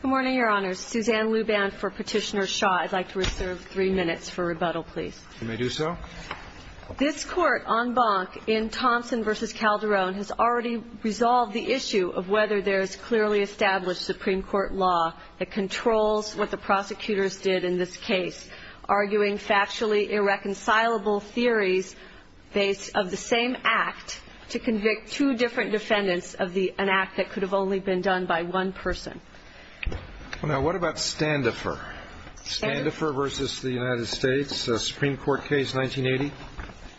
Good morning, your honors. Suzanne Luban for Petitioner Shaw. I'd like to reserve three minutes for rebuttal, please. You may do so. This court, en banc, in Thompson v. Calderon, has already resolved the issue of whether there is clearly established Supreme Court law that controls what the prosecutors did in this case, arguing factually irreconcilable theories based of the same act to convict two different defendants of an act that could have only been done by one person. Now, what about Standefer? Standefer v. The United States, a Supreme Court case, 1980?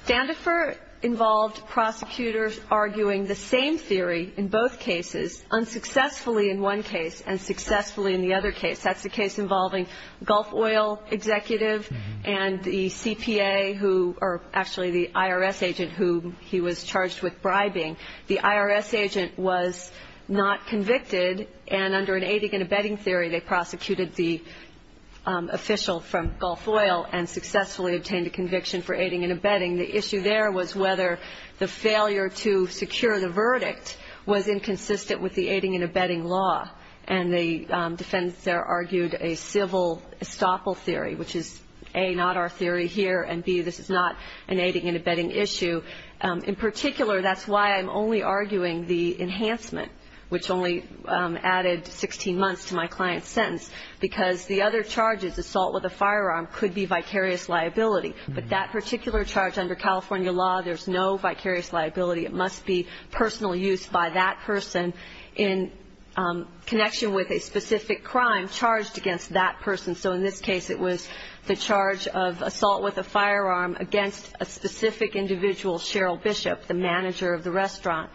Standefer involved prosecutors arguing the same theory in both cases, unsuccessfully in one case and successfully in the other case. That's the case involving Gulf Oil executive and the C.P.A. who, or actually the I.R.S. agent who he was charged with bribing. The I.R.S. agent was not convicted, and under an aiding and abetting theory, they prosecuted the official from Gulf Oil and successfully obtained a conviction for aiding and abetting. The issue there was whether the failure to secure the verdict was inconsistent with the aiding and abetting law. And the defendants there argued a civil estoppel theory, which is, A, not our theory here, and, B, this is not an aiding and abetting issue. In particular, that's why I'm only arguing the enhancement, which only added 16 months to my client's sentence, because the other charges, assault with a firearm, could be vicarious liability. But that particular charge under California law, there's no vicarious liability. It must be personal use by that person in connection with a specific crime charged against that person. So in this case, it was the charge of assault with a firearm against a specific individual, Cheryl Bishop, the manager of the restaurant.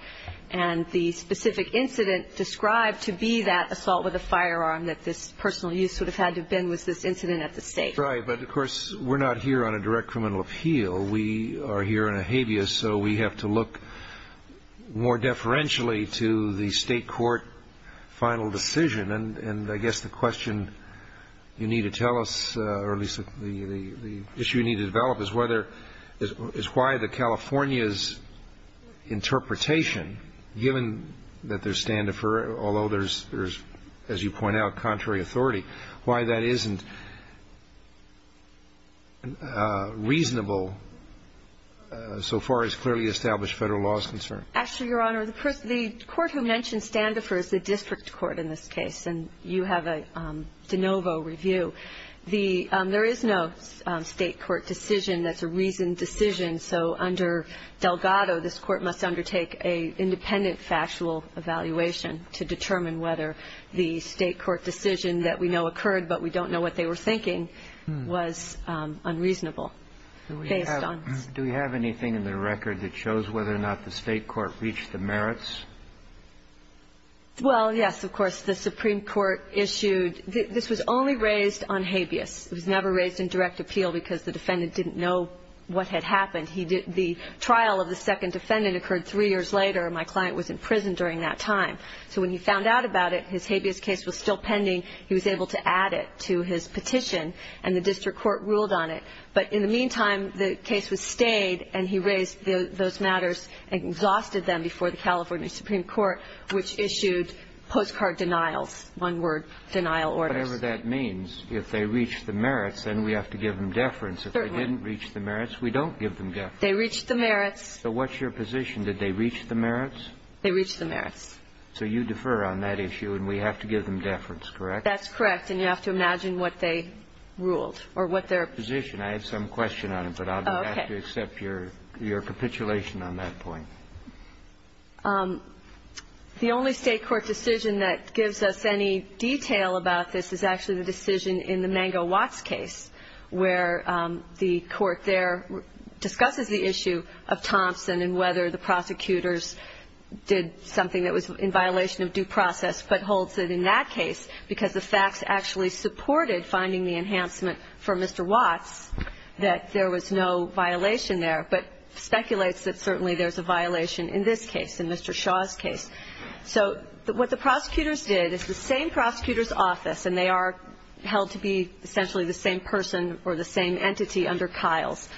And the specific incident described to be that assault with a firearm that this personal use would have had to have been was this incident at the state. Right. But, of course, we're not here on a direct criminal appeal. We are here on a habeas, so we have to look more deferentially to the state court final decision. And I guess the question you need to tell us, or at least the issue you need to develop, is why the California's interpretation, given that there's standoffer, although there's, as you point out, contrary authority, why that isn't reasonable so far as clearly established Federal law is concerned? Actually, Your Honor, the court who mentioned standoffer is the district court in this case. And you have a de novo review. There is no state court decision that's a reasoned decision. So under Delgado, this court must undertake an independent factual evaluation to determine whether the state court decision that we know occurred, but we don't know what they were thinking, was unreasonable. Do we have anything in the record that shows whether or not the state court reached the merits? Well, yes, of course. The Supreme Court issued – this was only raised on habeas. It was never raised in direct appeal because the defendant didn't know what had happened. The trial of the second defendant occurred three years later. My client was in prison during that time. So when he found out about it, his habeas case was still pending. He was able to add it to his petition, and the district court ruled on it. But in the meantime, the case was stayed, and he raised those matters and exhausted them before the California Supreme Court, which issued postcard denials, one-word denial orders. Whatever that means, if they reached the merits, then we have to give them deference. If they didn't reach the merits, we don't give them deference. They reached the merits. So what's your position? Did they reach the merits? They reached the merits. So you defer on that issue, and we have to give them deference, correct? That's correct. And you have to imagine what they ruled or what their position is. I have some question on it, but I'll have to accept your capitulation on that point. The only state court decision that gives us any detail about this is actually the decision in the Mango-Watts case, where the court there discusses the issue of Thompson and whether the prosecutors did something that was in violation of due process, but holds it in that case because the facts actually supported finding the enhancement for Mr. Watts, that there was no violation there, but speculates that certainly there's a violation in this case, in Mr. Shaw's case. So what the prosecutors did is the same prosecutor's office, and they are held to be essentially the same person or the same entity under Kyle's,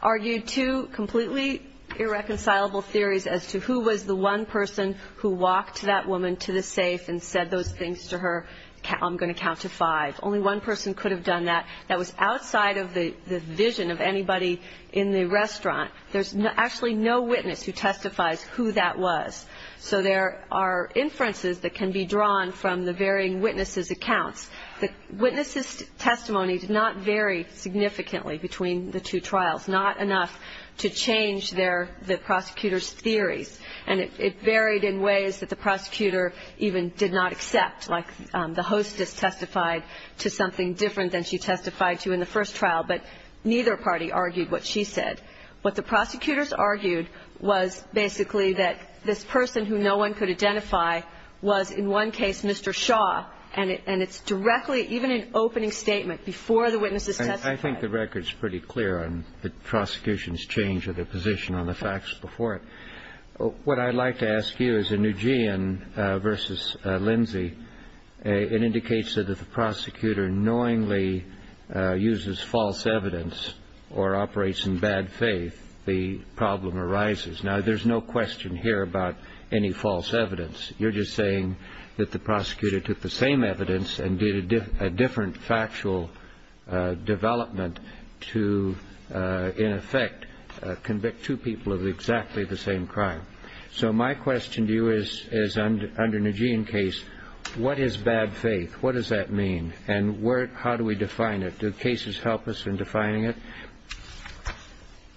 argued two completely irreconcilable theories as to who was the one person who walked that woman to the safe and said those things to her, I'm going to count to five. Only one person could have done that. That was outside of the vision of anybody in the restaurant. There's actually no witness who testifies who that was. So there are inferences that can be drawn from the varying witnesses' accounts. The witnesses' testimony did not vary significantly between the two trials, not enough to change the prosecutor's theories, and it varied in ways that the prosecutor even did not accept, like the hostess testified to something different than she testified to in the first trial, but neither party argued what she said. What the prosecutors argued was basically that this person who no one could identify was in one case Mr. Shaw, and it's directly, even in opening statement, before the witnesses testified. I think the record's pretty clear on the prosecution's change of their position on the facts before it. What I'd like to ask you is in Nguyen v. Lindsay, it indicates that if the prosecutor knowingly uses false evidence or operates in bad faith, the problem arises. Now, there's no question here about any false evidence. You're just saying that the prosecutor took the same evidence and did a different factual development to, in effect, convict two people of exactly the same crime. So my question to you is, under Nguyen case, what is bad faith? What does that mean? And how do we define it? Do cases help us in defining it?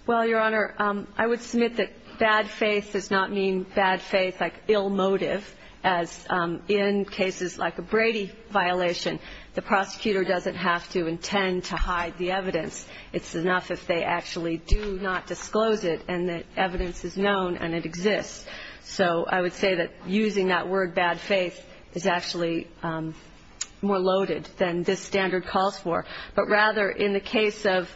Well, Your Honor, I would submit that bad faith does not mean bad faith like ill motive, as in cases like a Brady violation, the prosecutor doesn't have to intend to hide the evidence. It's enough if they actually do not disclose it and the evidence is known and it exists. So I would say that using that word bad faith is actually more loaded than this standard calls for. But rather in the case of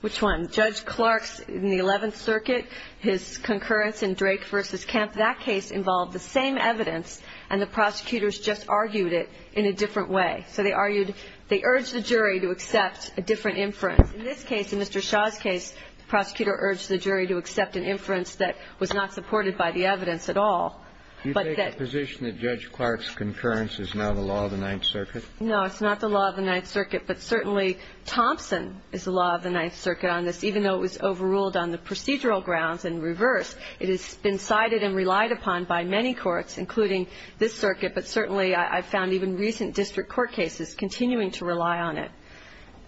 which one? Judge Clark's in the Eleventh Circuit, his concurrence in Drake v. Kemp, that case involved the same evidence and the prosecutors just argued it in a different way. So they argued they urged the jury to accept a different inference. In this case, in Mr. Shaw's case, the prosecutor urged the jury to accept an inference that was not supported by the evidence at all. Do you take the position that Judge Clark's concurrence is not a law of the Ninth Circuit? No, it's not the law of the Ninth Circuit, but certainly Thompson is the law of the Ninth Circuit on this, even though it was overruled on the procedural grounds in reverse. It has been cited and relied upon by many courts, including this circuit, but certainly I've found even recent district court cases continuing to rely on it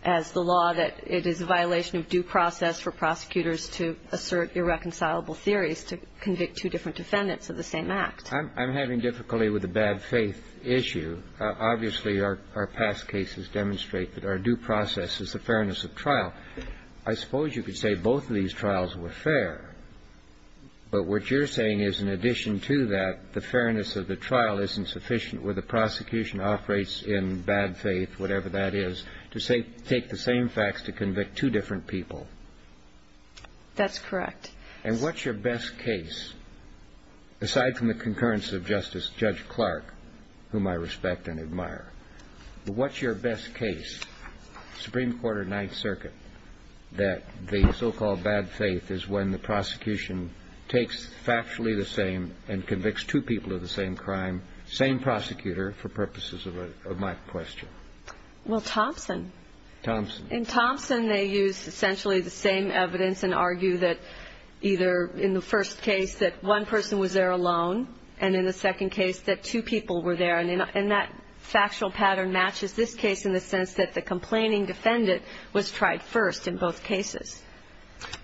as the law, that it is a violation of due process for prosecutors to assert irreconcilable theories, to convict two different defendants of the same act. I'm having difficulty with the bad faith issue. Obviously, our past cases demonstrate that our due process is the fairness of trial. I suppose you could say both of these trials were fair, but what you're saying is, in addition to that, the fairness of the trial isn't sufficient where the prosecution operates in bad faith, whatever that is, to take the same facts to convict two different people. That's correct. And what's your best case, aside from the concurrence of Justice Judge Clark, whom I respect and admire, but what's your best case, Supreme Court or Ninth Circuit, that the so-called bad faith is when the prosecution takes factually the same and convicts two people of the same crime, same prosecutor, for purposes of my question? Well, Thompson. Thompson. In Thompson, they use essentially the same evidence and argue that either in the first case that one person was there alone and in the second case that two people were there. And that factual pattern matches this case in the sense that the complaining defendant was tried first in both cases.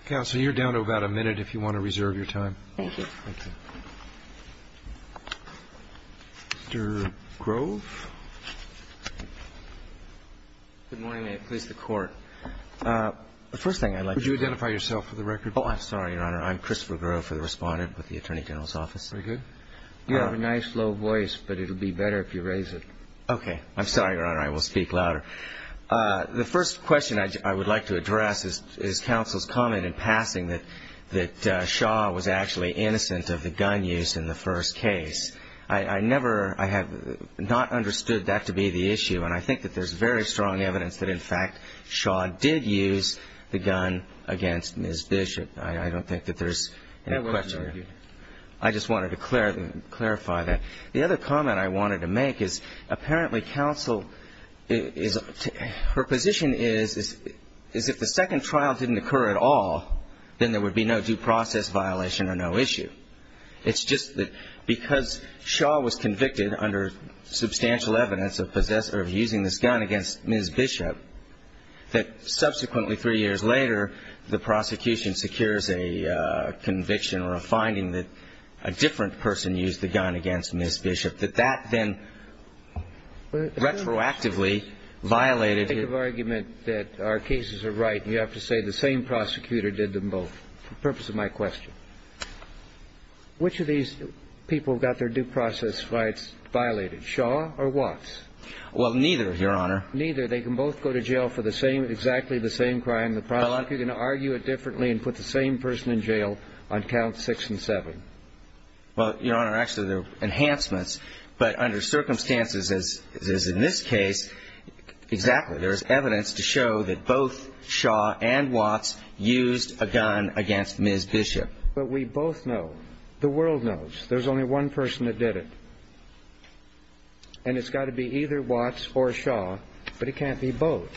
Counsel, you're down to about a minute if you want to reserve your time. Thank you. Thank you. Mr. Grove. Good morning. May it please the Court. The first thing I'd like to do. Would you identify yourself for the record? Oh, I'm sorry, Your Honor. I'm Christopher Grove, the Respondent with the Attorney General's Office. Very good. You have a nice, low voice, but it'll be better if you raise it. Okay. I'm sorry, Your Honor. I will speak louder. The first question I would like to address is Counsel's comment in passing that Shaw was actually innocent of the gun use in the first case. I never, I have not understood that to be the issue, and I think that there's very strong evidence that, in fact, Shaw did use the gun against Ms. Bishop. I don't think that there's any question there. I just wanted to clarify that. The other comment I wanted to make is apparently Counsel is, her position is, is if the second trial didn't occur at all, then there would be no due process violation or no issue. It's just that because Shaw was convicted under substantial evidence of using this gun against Ms. Bishop, that subsequently, three years later, the prosecution secures a conviction or a finding that a different person used the gun against Ms. Bishop, that that then retroactively violated his ---- So you make the argument that our cases are right, and you have to say the same prosecutor did them both for the purpose of my question. Which of these people got their due process rights violated, Shaw or Watts? Well, neither, Your Honor. Neither. They can both go to jail for the same, exactly the same crime. The prosecutor can argue it differently and put the same person in jail on count six and seven. Well, Your Honor, actually, they're enhancements. But under circumstances, as is in this case, Exactly. There is evidence to show that both Shaw and Watts used a gun against Ms. Bishop. But we both know, the world knows, there's only one person that did it. And it's got to be either Watts or Shaw, but it can't be both.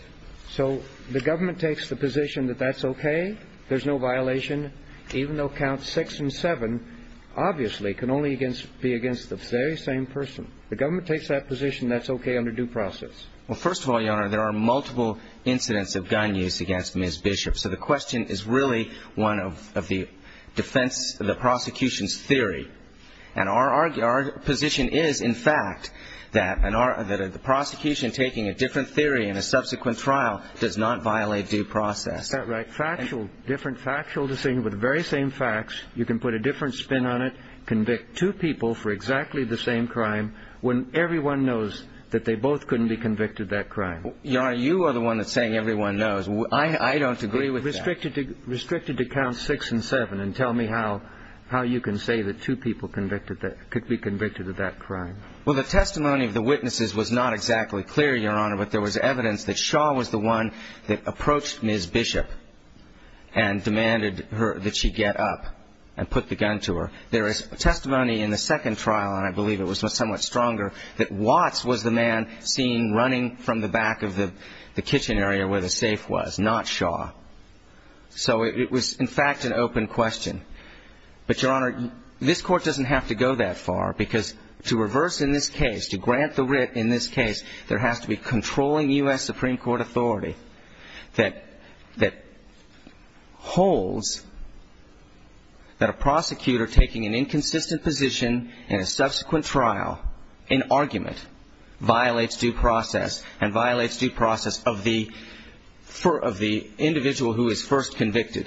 So the government takes the position that that's okay, there's no violation, even though count six and seven obviously can only be against the very same person. The government takes that position that's okay under due process. Well, first of all, Your Honor, there are multiple incidents of gun use against Ms. Bishop. So the question is really one of the defense, the prosecution's theory. And our position is, in fact, that the prosecution taking a different theory in a subsequent trial does not violate due process. Is that right? Factual, different factual decision with the very same facts. You can put a different spin on it, convict two people for exactly the same crime, when everyone knows that they both couldn't be convicted of that crime. Your Honor, you are the one that's saying everyone knows. I don't agree with that. Restricted to count six and seven, and tell me how you can say that two people could be convicted of that crime. Well, the testimony of the witnesses was not exactly clear, Your Honor, but there was evidence that Shaw was the one that approached Ms. Bishop and demanded that she get up and put the gun to her. There is testimony in the second trial, and I believe it was somewhat stronger, that Watts was the man seen running from the back of the kitchen area where the safe was, not Shaw. So it was, in fact, an open question. But, Your Honor, this Court doesn't have to go that far because to reverse in this case, to grant the writ in this case, there has to be controlling U.S. Supreme Court authority that holds that a prosecutor taking an inconsistent position in a subsequent trial, in argument, violates due process and violates due process of the individual who is first convicted.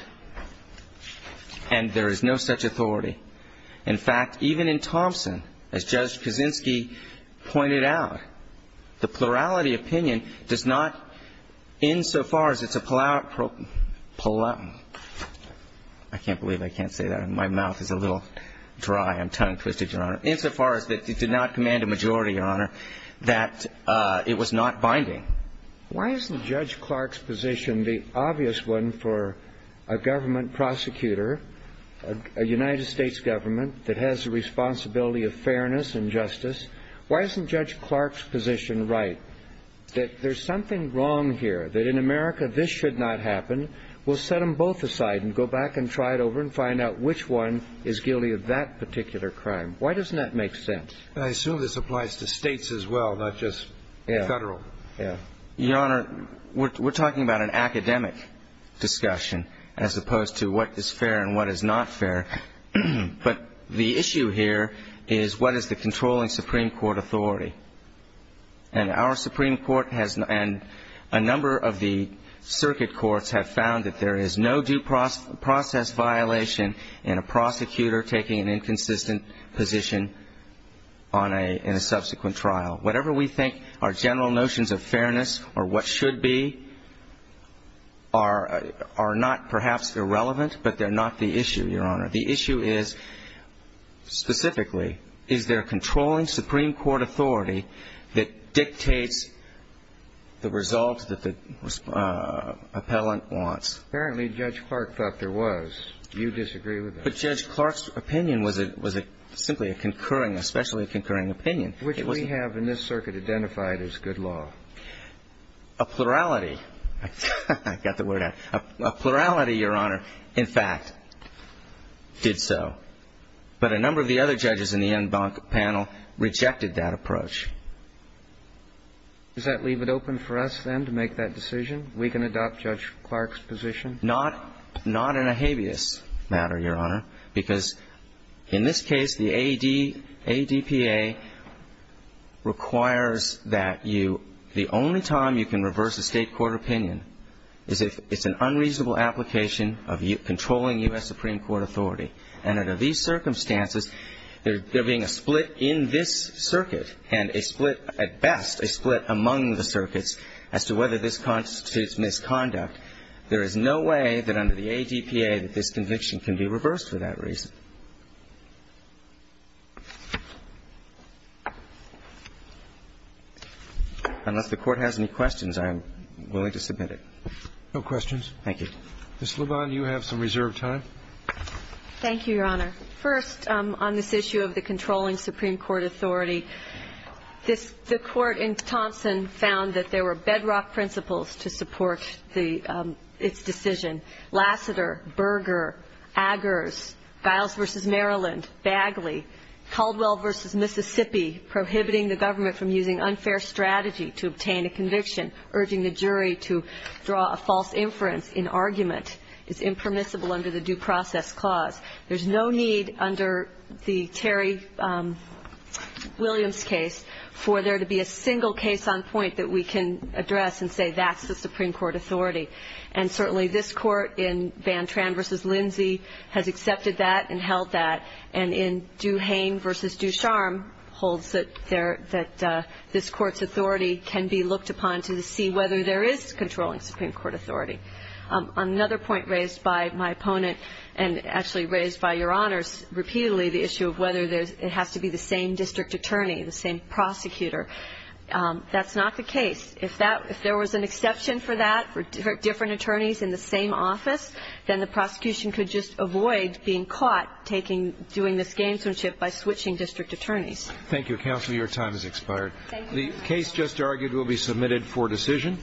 And there is no such authority. In fact, even in Thompson, as Judge Kaczynski pointed out, the plurality opinion does not, insofar as it's a plurality, I can't believe I can't say that. My mouth is a little dry. I'm tongue-twisted, Your Honor. Insofar as it did not command a majority, Your Honor, that it was not binding. Why isn't Judge Clark's position the obvious one for a government prosecutor, a United States government that has the responsibility of fairness and justice? Why isn't Judge Clark's position right, that there's something wrong here, that in America this should not happen? We'll set them both aside and go back and try it over and find out which one is guilty of that particular crime. Why doesn't that make sense? And I assume this applies to states as well, not just federal. Yeah. Your Honor, we're talking about an academic discussion as opposed to what is fair and what is not fair. But the issue here is what is the controlling Supreme Court authority? And our Supreme Court and a number of the circuit courts have found that there is no due process violation in a prosecutor taking an inconsistent position in a subsequent trial. Whatever we think our general notions of fairness or what should be are not perhaps irrelevant, but they're not the issue, Your Honor. The issue is, specifically, is there a controlling Supreme Court authority that dictates the results that the appellant wants? Apparently, Judge Clark thought there was. Do you disagree with that? But Judge Clark's opinion was simply a concurring, especially a concurring opinion. Which we have in this circuit identified as good law. A plurality. I got the word out. A plurality, Your Honor, in fact, did so. But a number of the other judges in the en banc panel rejected that approach. Does that leave it open for us, then, to make that decision? We can adopt Judge Clark's position? Not in a habeas matter, Your Honor. Because in this case, the ADPA requires that you the only time you can reverse a State court opinion is if it's an unreasonable application of controlling U.S. Supreme Court authority. And under these circumstances, there being a split in this circuit and a split, at best, a split among the circuits as to whether this constitutes misconduct, there is no way that under the ADPA that this conviction can be reversed for that reason. Unless the Court has any questions, I'm willing to submit it. No questions. Thank you. Ms. Lebon, you have some reserved time. Thank you, Your Honor. First, on this issue of the controlling Supreme Court authority, the Court in Thompson found that there were bedrock principles to support its decision. Lassiter, Berger, Aggers, Giles v. Maryland, Bagley, Caldwell v. Mississippi, prohibiting the government from using unfair strategy to obtain a conviction, urging the jury to draw a false inference in argument is impermissible under the Due Process Clause. There's no need under the Terry Williams case for there to be a single case on point that we can address and say that's the Supreme Court authority. And certainly this Court in Van Tran v. Lindsay has accepted that and held that. And in Duhane v. Ducharme holds that this Court's authority can be looked upon to see whether there is controlling Supreme Court authority. Another point raised by my opponent and actually raised by Your Honors repeatedly, the issue of whether it has to be the same district attorney, the same prosecutor. That's not the case. If there was an exception for that for different attorneys in the same office, then the prosecution could just avoid being caught doing this gamesmanship by switching district attorneys. Thank you, Counsel. Your time has expired. Thank you. The case just argued will be submitted for decision.